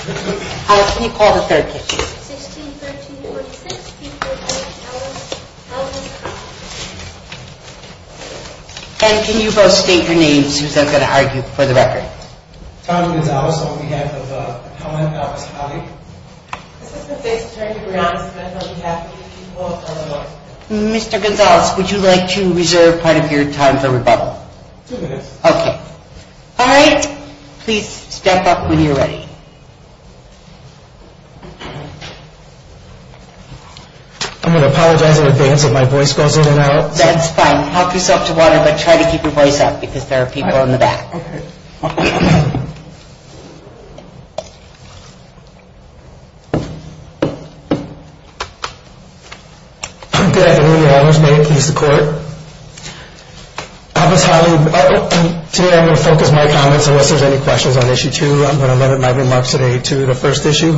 How can you both state your names, who's going to argue for the record? Tom Gonzales on behalf of the Pell Management Office, Holley. Mr. Gonzales, would you like to reserve part of your time for rebuttal? Two minutes. Okay. All right. Please step up when you're ready. I'm going to apologize in advance if my voice goes in and out. That's fine. Talk yourself to water, but try to keep your voice up because there are people in the back. Okay. Good afternoon, Your Honors. May it please the Court. Alice Holley, today I'm going to focus my comments unless there's any questions on Issue 2. I'm going to limit my remarks today to the first issue.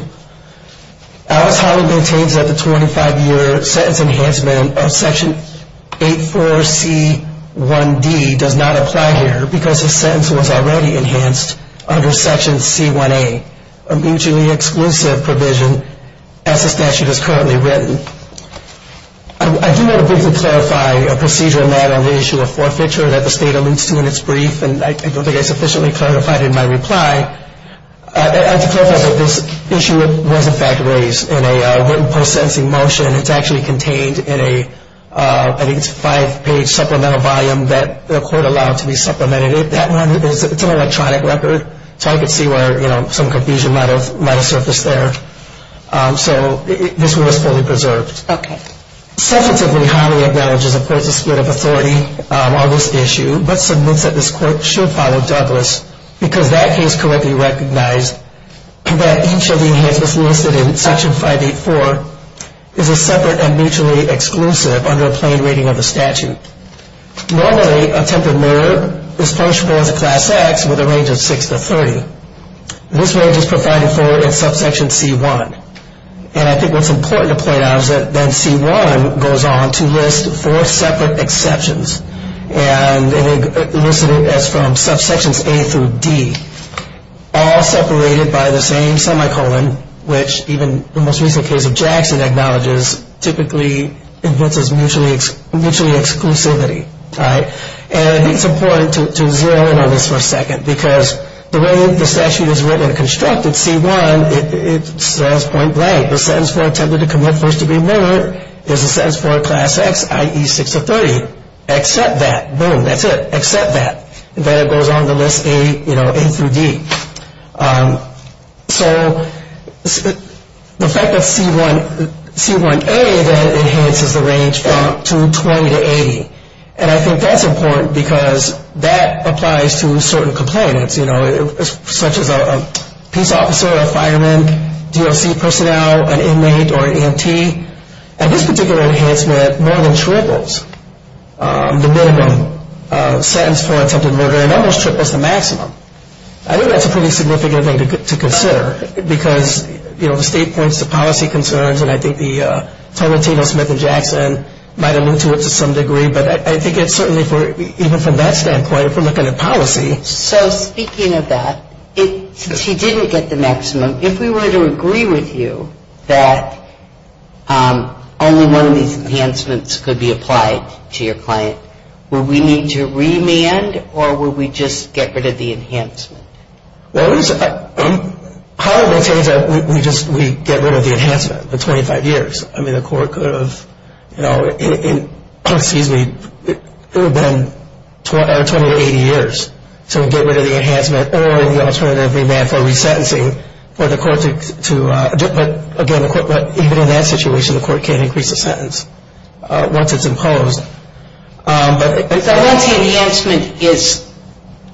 Alice Holley maintains that the 25-year sentence enhancement of Section 84C1D does not apply here because the sentence was already enhanced under Section C1A, a mutually exclusive provision as the statute is currently written. I do want to briefly clarify a procedure in that on the issue of forfeiture that the State alludes to in its brief, and I don't think I sufficiently clarified it in my reply. I'd like to clarify that this issue was, in fact, raised in a written post-sentencing motion. It's actually contained in a, I think it's a five-page supplemental volume that the Court allowed to be supplemented. It's an electronic record, so I could see where some confusion might have surfaced there. So this was fully preserved. Okay. Substantively, Holley acknowledges, of course, a split of authority on this issue, but submits that this Court should follow Douglas because that case correctly recognized that each of the enhancements listed in Section 584 is a separate and mutually exclusive under a plain reading of the statute. Normally, attempted murder is punishable as a Class X with a range of 6 to 30. This range is provided for in Subsection C1. And I think what's important to point out is that then C1 goes on to list four separate exceptions. And it lists them as from Subsections A through D, all separated by the same semicolon, which even the most recent case of Jackson acknowledges typically invents as mutually exclusivity, right? And it's important to zero in on this for a second because the way the statute is written and constructed, C1, it says point blank. The sentence for attempted to commit first-degree murder is a sentence for a Class X, i.e. 6 to 30. Accept that. Boom. That's it. Accept that. And then it goes on to list A through D. So the fact that C1A then enhances the range from 220 to 80, and I think that's important because that applies to certain complainants, you know, such as a peace officer, a fireman, DOC personnel, an inmate, or an EMT. And this particular enhancement more than triples the minimum sentence for attempted murder. It almost triples the maximum. I think that's a pretty significant thing to consider because, you know, the state points to policy concerns, and I think the Tarantino, Smith, and Jackson might allude to it to some degree. But I think it's certainly, even from that standpoint, if we're looking at policy. So speaking of that, since he didn't get the maximum, if we were to agree with you that only one of these enhancements could be applied to your client, would we need to remand or would we just get rid of the enhancement? Well, how would we get rid of the enhancement for 25 years? I mean, the court could have, you know, excuse me, it would have been 20 to 80 years to get rid of the enhancement or the alternative remand for resentencing for the court to, again, but even in that situation, the court can't increase the sentence once it's imposed. But once the enhancement is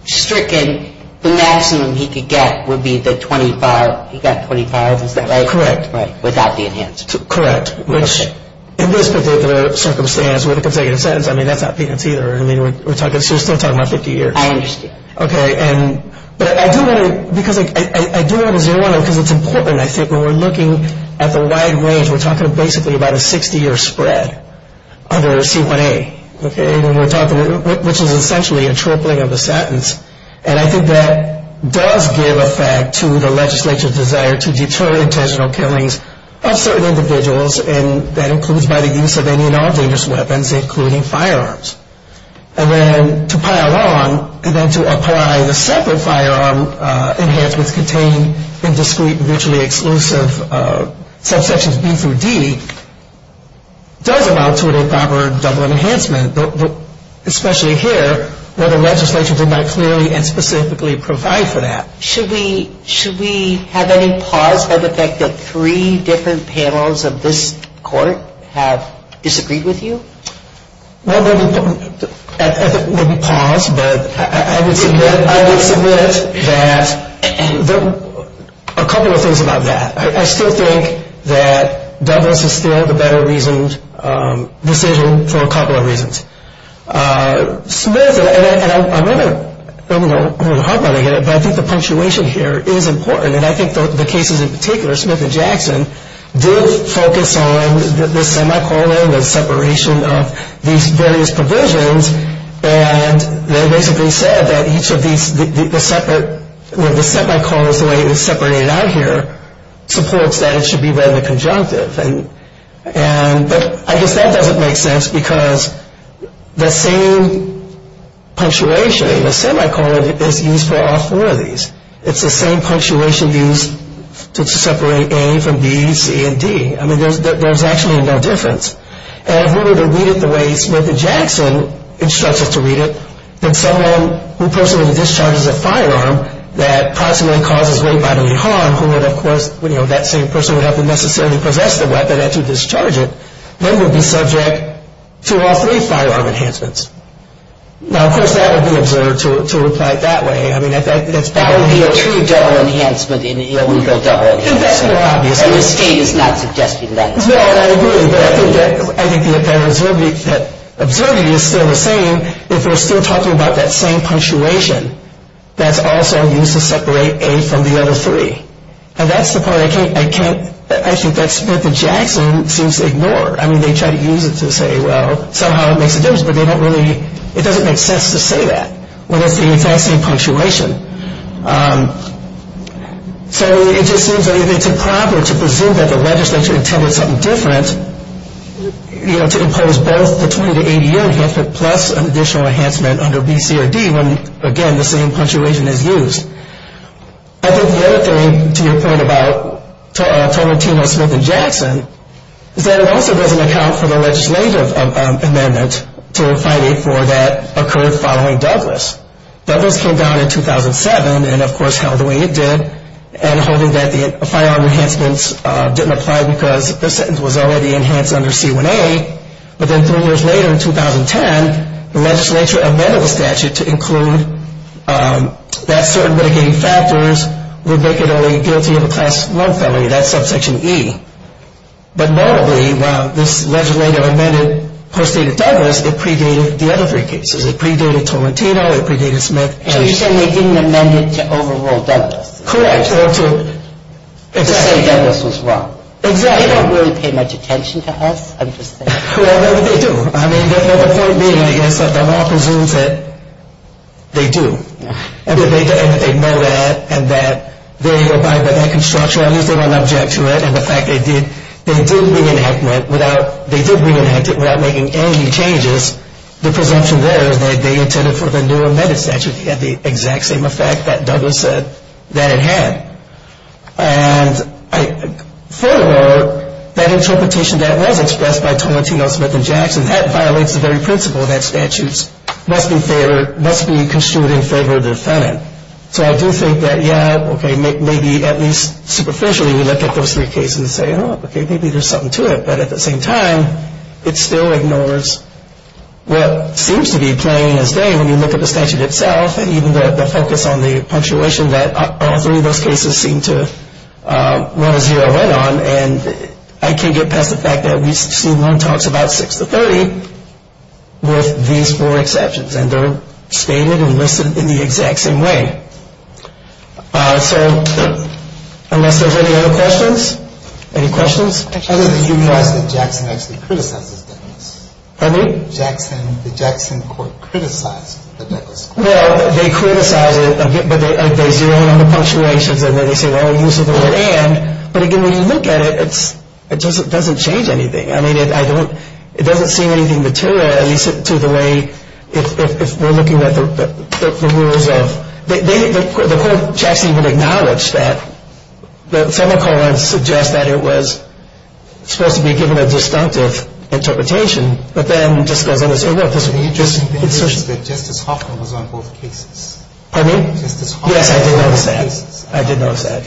stricken, the maximum he could get would be the 25. He got 25, is that right? Correct. Without the enhancement. Correct. Which, in this particular circumstance, when it comes to getting a sentence, I mean, that's not peanuts either. I mean, we're still talking about 50 years. I understand. Okay. But I do want to, because I do want to zero in on it because it's important, I think. When we're looking at the wide range, we're talking basically about a 60-year spread under C1A, okay, which is essentially a tripling of the sentence. And I think that does give effect to the legislature's desire to deter intentional killings of certain individuals, and that includes by the use of any and all dangerous weapons, including firearms. And then to pile on and then to apply the separate firearm enhancements contained in discrete, virtually exclusive subsections B through D does allow to a proper double enhancement, especially here where the legislature did not clearly and specifically provide for that. Should we have any pause by the fact that three different panels of this court have disagreed with you? Well, maybe pause, but I would submit that a couple of things about that. I still think that Douglas is still the better-reasoned decision for a couple of reasons. Smith, and I'm going to, I don't know how I'm going to get it, but I think the punctuation here is important, and I think the cases in particular, Smith and Jackson, did focus on the semicolon, the separation of these various provisions, and they basically said that each of these, the separate, the semicolons the way it was separated out here supports that it should be rather conjunctive. And, but I guess that doesn't make sense because the same punctuation, the semicolon is used for all four of these. It's the same punctuation used to separate A from B, C, and D. I mean, there's actually no difference. And in order to read it the way Smith and Jackson instructs us to read it, that someone who personally discharges a firearm that proximately causes great bodily harm, who would, of course, you know, that same person would have to necessarily possess the weapon and to discharge it, then would be subject to all three firearm enhancements. Now, of course, that would be absurd to reply that way. I mean, I think that's probably the case. That would be a true double enhancement. It would be a double enhancement, obviously. And the state is not suggesting that. Well, I agree, but I think the apparent absurdity is still the same if we're still talking about that same punctuation that's also used to separate A from the other three. And that's the part I can't, I can't, I think that Smith and Jackson seems to ignore. I mean, they try to use it to say, well, somehow it makes a difference, but they don't really, it doesn't make sense to say that when it's the exact same punctuation. So it just seems that if they took proper to presume that the legislature intended something different, you know, to impose both the 20 to 80 year enhancement plus an additional enhancement under B, C, or D, when, again, the same punctuation is used. I think the other thing, to your point about Tolentino, Smith, and Jackson, is that it also doesn't account for the legislative amendment to fight A4 that occurred following Douglas. Douglas came down in 2007 and, of course, held the way it did, and holding that the firearm enhancements didn't apply because the sentence was already enhanced under C1A. But then three years later, in 2010, the legislature amended the statute to include that certain mitigating factors would make it only guilty of a class 1 felony. That's subsection E. But notably, while this legislative amendment postdated Douglas, it predated the other three cases. It predated Tolentino. It predated Smith. So you're saying they didn't amend it to overrule Douglas. Correct. To say Douglas was wrong. Exactly. They don't really pay much attention to us, I'm just saying. Well, they do. I mean, the point being, I guess, that the law presumes that they do, and that they know that, and that they abide by that construction. At least they don't object to it. And the fact that they did bring an amendment without making any changes, the presumption there is that they intended for the new amended statute to have the exact same effect that Douglas said that it had. And furthermore, that interpretation that was expressed by Tolentino, Smith, and Jackson, that violates the very principle that statutes must be construed in favor of the defendant. So I do think that, yeah, okay, maybe at least superficially we look at those three cases and say, Oh, okay, maybe there's something to it. But at the same time, it still ignores what seems to be plain as day when you look at the statute itself and even the focus on the punctuation that all three of those cases seem to run a zero in on. And I can't get past the fact that we see one talks about 6 to 30 with these four exceptions, and they're stated and listed in the exact same way. So unless there's any other questions, any questions? I didn't realize that Jackson actually criticized this. Pardon me? The Jackson court criticized the Douglas court. Well, they criticized it, but they zeroed in on the punctuations, and then they say, well, use of the word and. But, again, when you look at it, it doesn't change anything. I mean, it doesn't seem anything material, at least to the way if we're looking at the rules of. The court Jackson even acknowledged that the semicolon suggests that it was supposed to be given a disjunctive interpretation, but then just goes on to say, look, this is just. Justice Hoffman was on both cases. Pardon me? Justice Hoffman. Yes, I did notice that. I did notice that.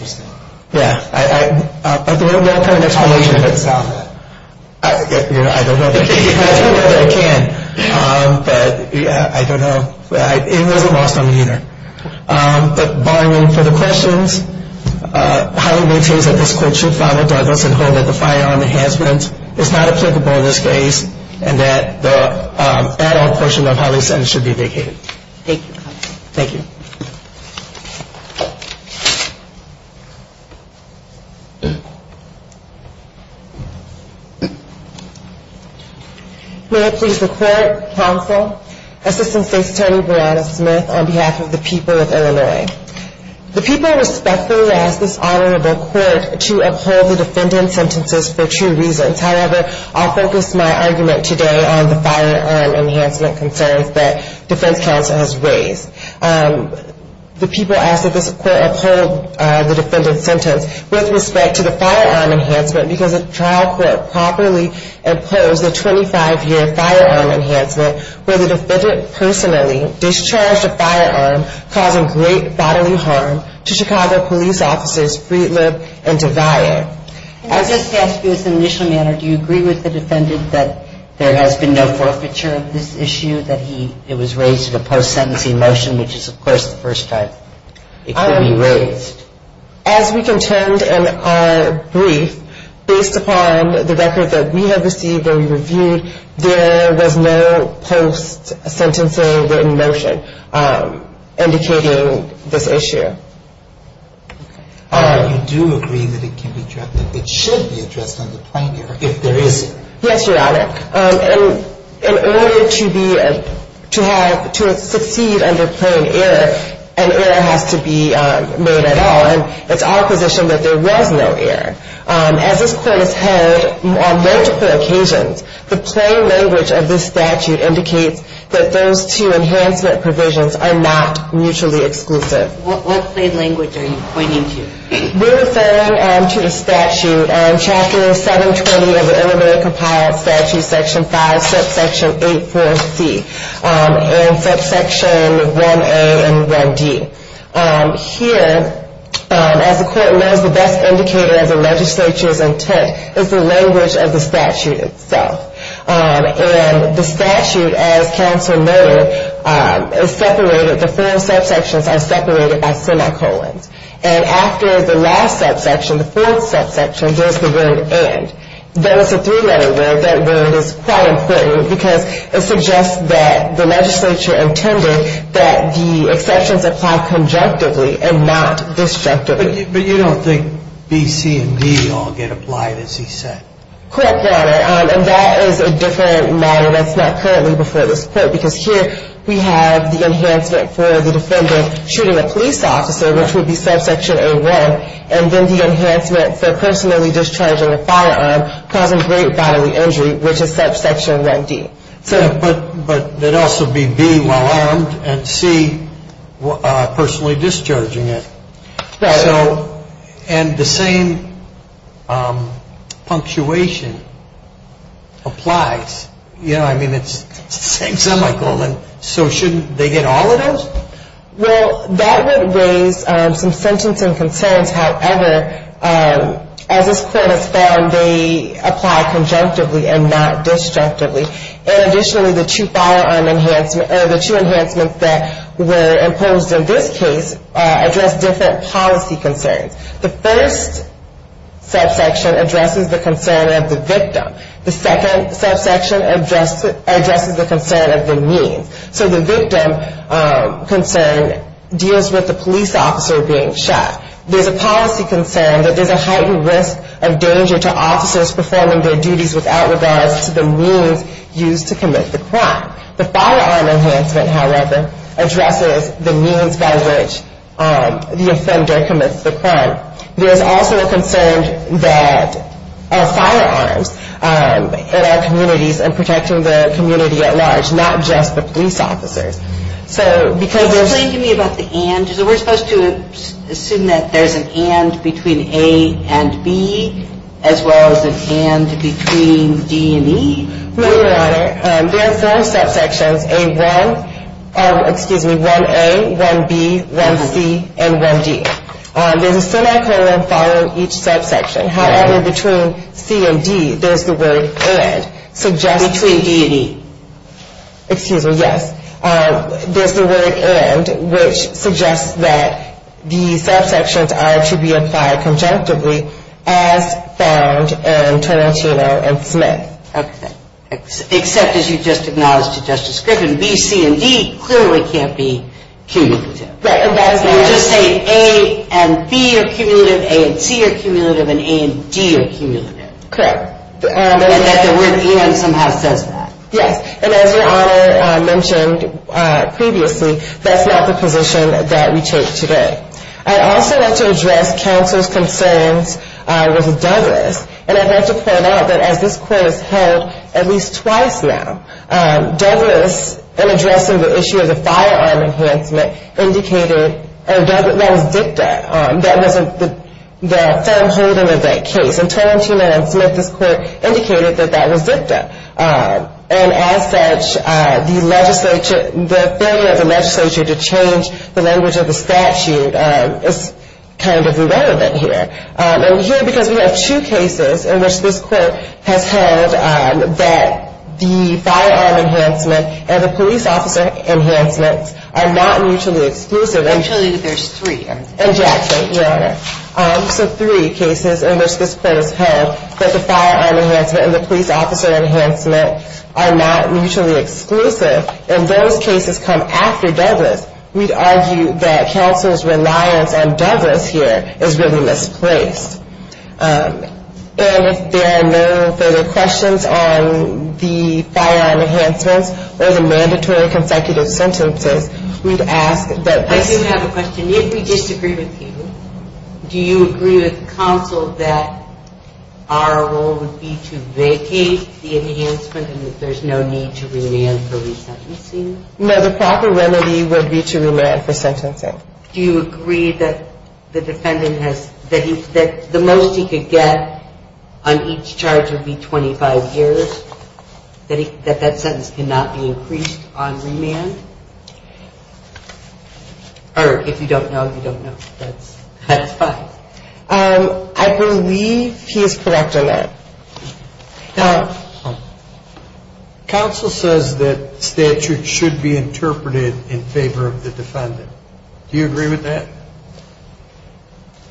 Yeah. I don't have an explanation. How do you reconcile that? I don't know that I can, but I don't know. It wasn't lost on me either. But, barring any further questions, I highly maintain that this court should follow Douglas and hold that the firearm enhancement is not applicable in this case, and that the add-on portion of how they said it should be vacated. Thank you, counsel. Thank you. May it please the court, counsel, Assistant State's Attorney Brianna Smith on behalf of the people of Illinois. The people respectfully ask this honorable court to uphold the defendant's sentences for two reasons. However, I'll focus my argument today on the firearm enhancement concerns that defense counsel has raised. The people ask that this court uphold the defendant's sentence with respect to the firearm enhancement because the trial court properly imposed a 25-year firearm enhancement where the defendant personally discharged a firearm causing great bodily harm to Chicago police officers, Freedlib and DeVaillant. I just ask you as an initial matter, do you agree with the defendant that there has been no forfeiture of this issue, that it was raised in a post-sentencing motion, which is, of course, the first time it could be raised? As we contend in our brief, based upon the record that we have received and reviewed, there was no post-sentencing written motion indicating this issue. You do agree that it can be addressed, that it should be addressed on the plenary if there is one? Yes, Your Honor. In order to succeed under plain error, an error has to be made at all, and it's our position that there was no error. As this court has heard on multiple occasions, the plain language of this statute indicates that those two enhancement provisions are not mutually exclusive. What plain language are you pointing to? We're referring to the statute in Chapter 720 of the Illinois Compiled Statute, Section 5, Subsection 8.4.C, and Subsection 1.A and 1.D. Here, as the court knows, the best indicator of the legislature's intent is the language of the statute itself. The statute, as counsel noted, is separated. The four subsections are separated by semicolons. And after the last subsection, the fourth subsection, there's the word and. That is a three-letter word. That word is quite important because it suggests that the legislature intended that the exceptions apply conjunctively and not destructively. But you don't think B, C, and D all get applied as he said? Correct, Your Honor. And that is a different matter that's not currently before this court, because here we have the enhancement for the defendant shooting a police officer, which would be Subsection 0.1, and then the enhancement for personally discharging a firearm causing great bodily injury, which is Subsection 1.D. But it also would be B, well-armed, and C, personally discharging it. Right. And the same punctuation applies. Yeah, I mean, it's the same semicolon, so shouldn't they get all of those? Well, that would raise some sentencing concerns. However, as this court has found, they apply conjunctively and not destructively. And additionally, the two firearm enhancements or the two enhancements that were imposed in this case address different policy concerns. The first subsection addresses the concern of the victim. The second subsection addresses the concern of the means. So the victim concern deals with the police officer being shot. There's a policy concern that there's a heightened risk of danger to officers performing their duties without regard to the means used to commit the crime. The firearm enhancement, however, addresses the means by which the offender commits the crime. There's also a concern that of firearms in our communities and protecting the community at large, not just the police officers. So because there's Explain to me about the and. Is it we're supposed to assume that there's an and between A and B, as well as an and between D and E? Your Honor, there are four subsections, A1, excuse me, 1A, 1B, 1C, and 1D. There's a semicolon following each subsection. However, between C and D, there's the word and. Between D and E? Excuse me, yes. There's the word and, which suggests that the subsections are to be applied conjunctively as found in Trenantino and Smith. Okay. Except as you just acknowledged to Justice Griffin, B, C, and D clearly can't be cued. You're just saying A and B are cumulative, A and C are cumulative, and A and D are cumulative. Correct. And that the word and somehow says that. Yes. And as Your Honor mentioned previously, that's not the position that we take today. I'd also like to address counsel's concerns with Douglas, and I'd like to point out that as this court has held at least twice now, Douglas, in addressing the issue of the firearm enhancement, indicated that that was dicta. That wasn't the firm holding of that case. In Trenantino and Smith, this court indicated that that was dicta. And as such, the failure of the legislature to change the language of the statute is kind of irrelevant here. And here, because we have two cases in which this court has held that the firearm enhancement and the police officer enhancements are not mutually exclusive. Actually, there's three. In Jackson, Your Honor. So three cases in which this court has held that the firearm enhancement and the police officer enhancement are not mutually exclusive. If those cases come after Douglas, we'd argue that counsel's reliance on Douglas here is really misplaced. And if there are no further questions on the firearm enhancements or the mandatory consecutive sentences, we'd ask that this. I do have a question. If we disagree with you, do you agree with counsel that our role would be to vacate the enhancement and that there's no need to remand for resentencing? No, the proper remedy would be to remand for sentencing. Do you agree that the defendant has, that the most he could get on each charge would be 25 years, that that sentence cannot be increased on remand? Or if you don't know, you don't know. That's fine. I believe he is correct on that. Counsel says that statute should be interpreted in favor of the defendant. Do you agree with that?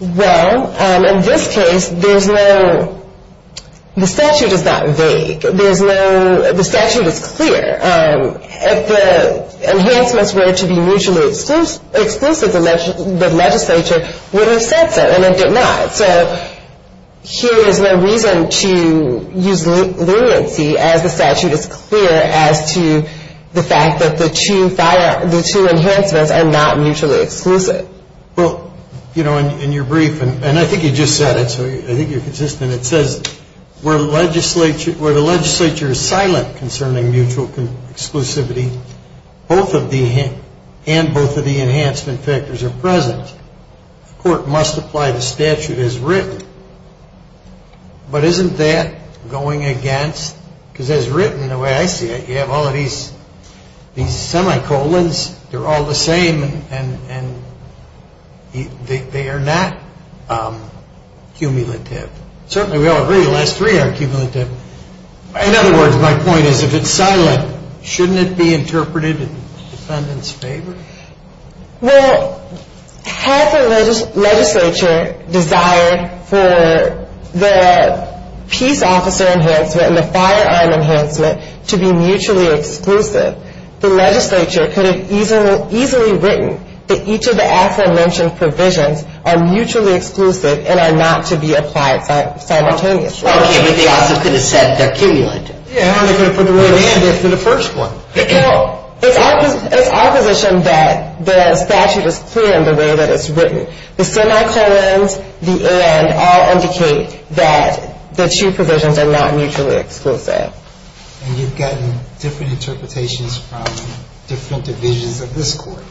Well, in this case, there's no, the statute is not vague. There's no, the statute is clear. If the enhancements were to be mutually exclusive, the legislature would have said so. And it did not. So here is my reason to use leniency as the statute is clear as to the fact that the two enhancements are not mutually exclusive. Well, you know, in your brief, and I think you just said it, so I think you're consistent, it says where the legislature is silent concerning mutual exclusivity, both of the, and both of the enhancement factors are present. The court must apply the statute as written. But isn't that going against, because as written, the way I see it, you have all of these semicolons, they're all the same, and they are not cumulative. In other words, my point is if it's silent, shouldn't it be interpreted in the defendant's favor? Well, had the legislature desired for the peace officer enhancement and the firearm enhancement to be mutually exclusive, the legislature could have easily written that each of the aforementioned provisions are mutually exclusive and are not to be applied simultaneously. Okay, but they also could have said they're cumulative. Yeah, or they could have put the word in after the first one. Well, it's our position that the statute is clear in the way that it's written. The semicolons, the and, all indicate that the two provisions are not mutually exclusive. And you've gotten different interpretations from different divisions of this court.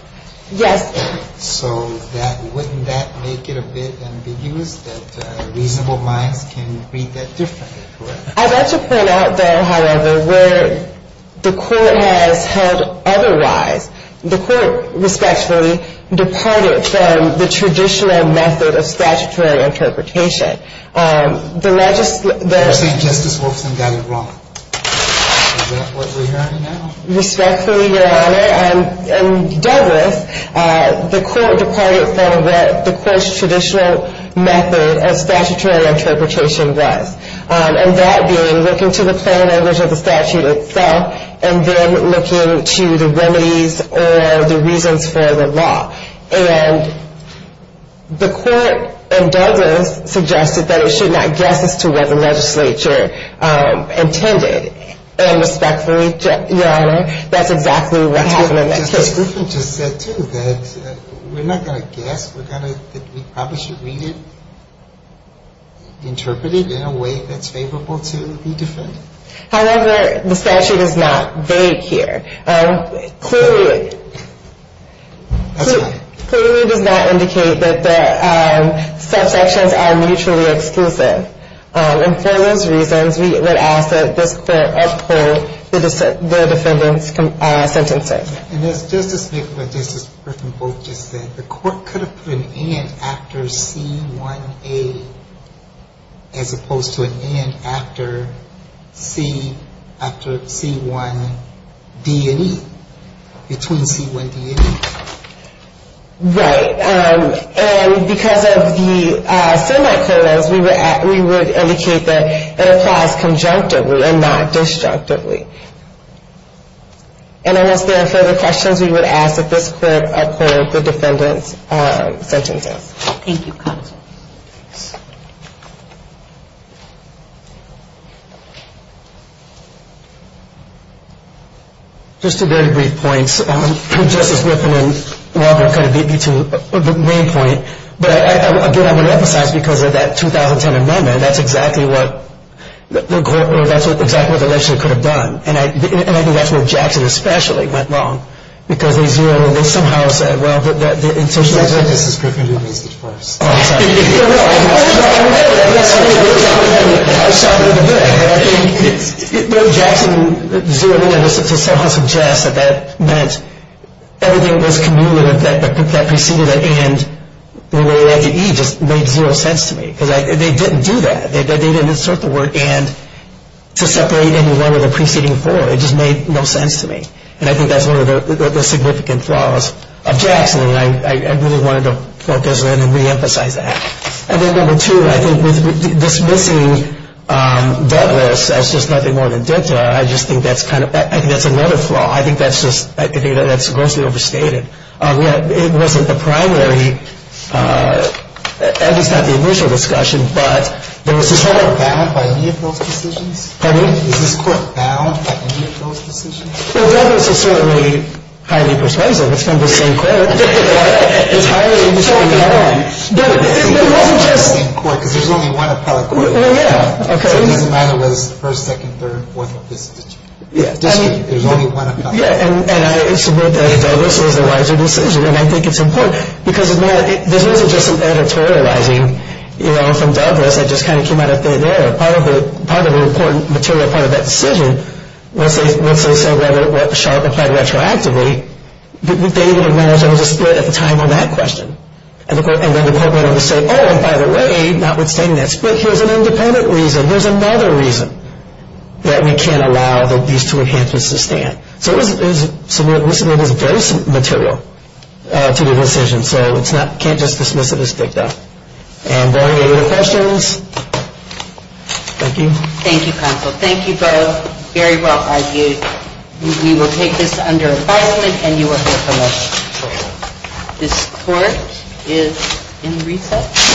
Yes. So wouldn't that make it a bit ambiguous that reasonable minds can read that differently? I'd like to point out, though, however, where the court has held otherwise. The court respectfully departed from the traditional method of statutory interpretation. You're saying Justice Wolfson got it wrong. Is that what we're hearing now? Respectfully, Your Honor, and Douglas, the court departed from what the court's traditional method of statutory interpretation was, and that being looking to the plain language of the statute itself and then looking to the remedies or the reasons for the law. And the court in Douglas suggested that it should not guess as to what the legislature intended. And respectfully, Your Honor, that's exactly what happened in that case. Justice Griffin just said, too, that we're not going to guess. We probably should read it, interpret it in a way that's favorable to the defendant. However, the statute is not vague here. Clearly, it does not indicate that the subsections are mutually exclusive. And for those reasons, we would ask that this court uphold the defendant's sentencing. And just to speak to what Justice Griffin both just said, the court could have put an and after C1A as opposed to an and after C1D&E, between C1D&E. Right. And because of the semi-quotas, we would indicate that it applies conjunctively and not destructively. And unless there are further questions, we would ask that this court uphold the defendant's sentences. Thank you, counsel. Thanks. Just two very brief points. Justice Griffin and Robert kind of beat me to the main point. But, again, I want to emphasize because of that 2010 amendment, that's exactly what the court or that's exactly what the legislature could have done. And I think that's where Jackson especially went wrong because they zeroed in. It's not just Justice Griffin who needs to be first. I know that. I know that. I saw it in the book. And I think that Jackson zeroed in to somehow suggest that that meant everything that was cumulative, that preceded an and, when they added E, just made zero sense to me because they didn't do that. They didn't insert the word and to separate anyone with a preceding for. It just made no sense to me. And I think that's one of the significant flaws of Jackson. And I really wanted to focus in and reemphasize that. And then, number two, I think dismissing Douglas as just nothing more than dicta, I just think that's kind of, I think that's another flaw. I think that's just, I think that's grossly overstated. It wasn't the primary, at least not the initial discussion, but there was this whole. Is this court bound by any of those decisions? Pardon me? Is this court bound by any of those decisions? Well, Douglas is certainly highly persuasive. It's from the same court. It's highly persuasive. But it wasn't just. It's the same court because there's only one appellate court. Oh, yeah, OK. So it doesn't matter whether it's the first, second, third, fourth of this district. There's only one appellate court. Yeah, and I submit that Douglas was the wiser decision. And I think it's important because it's not, this wasn't just an editorializing, you know, from Douglas that just kind of came out of thin air. Part of the important material, part of that decision, once they said whether Sharpe applied retroactively, they didn't even acknowledge there was a split at the time on that question. And then the court went over to say, oh, and by the way, notwithstanding that split, here's an independent reason. Here's another reason that we can't allow these two enhancements to stand. So it was, to me, it was very material to the decision. So it's not, can't just dismiss it as faked out. And are there any other questions? Thank you. Thank you, counsel. Thank you both. Very well argued. We will take this under appointment and you are here for lunch. This court is in recess.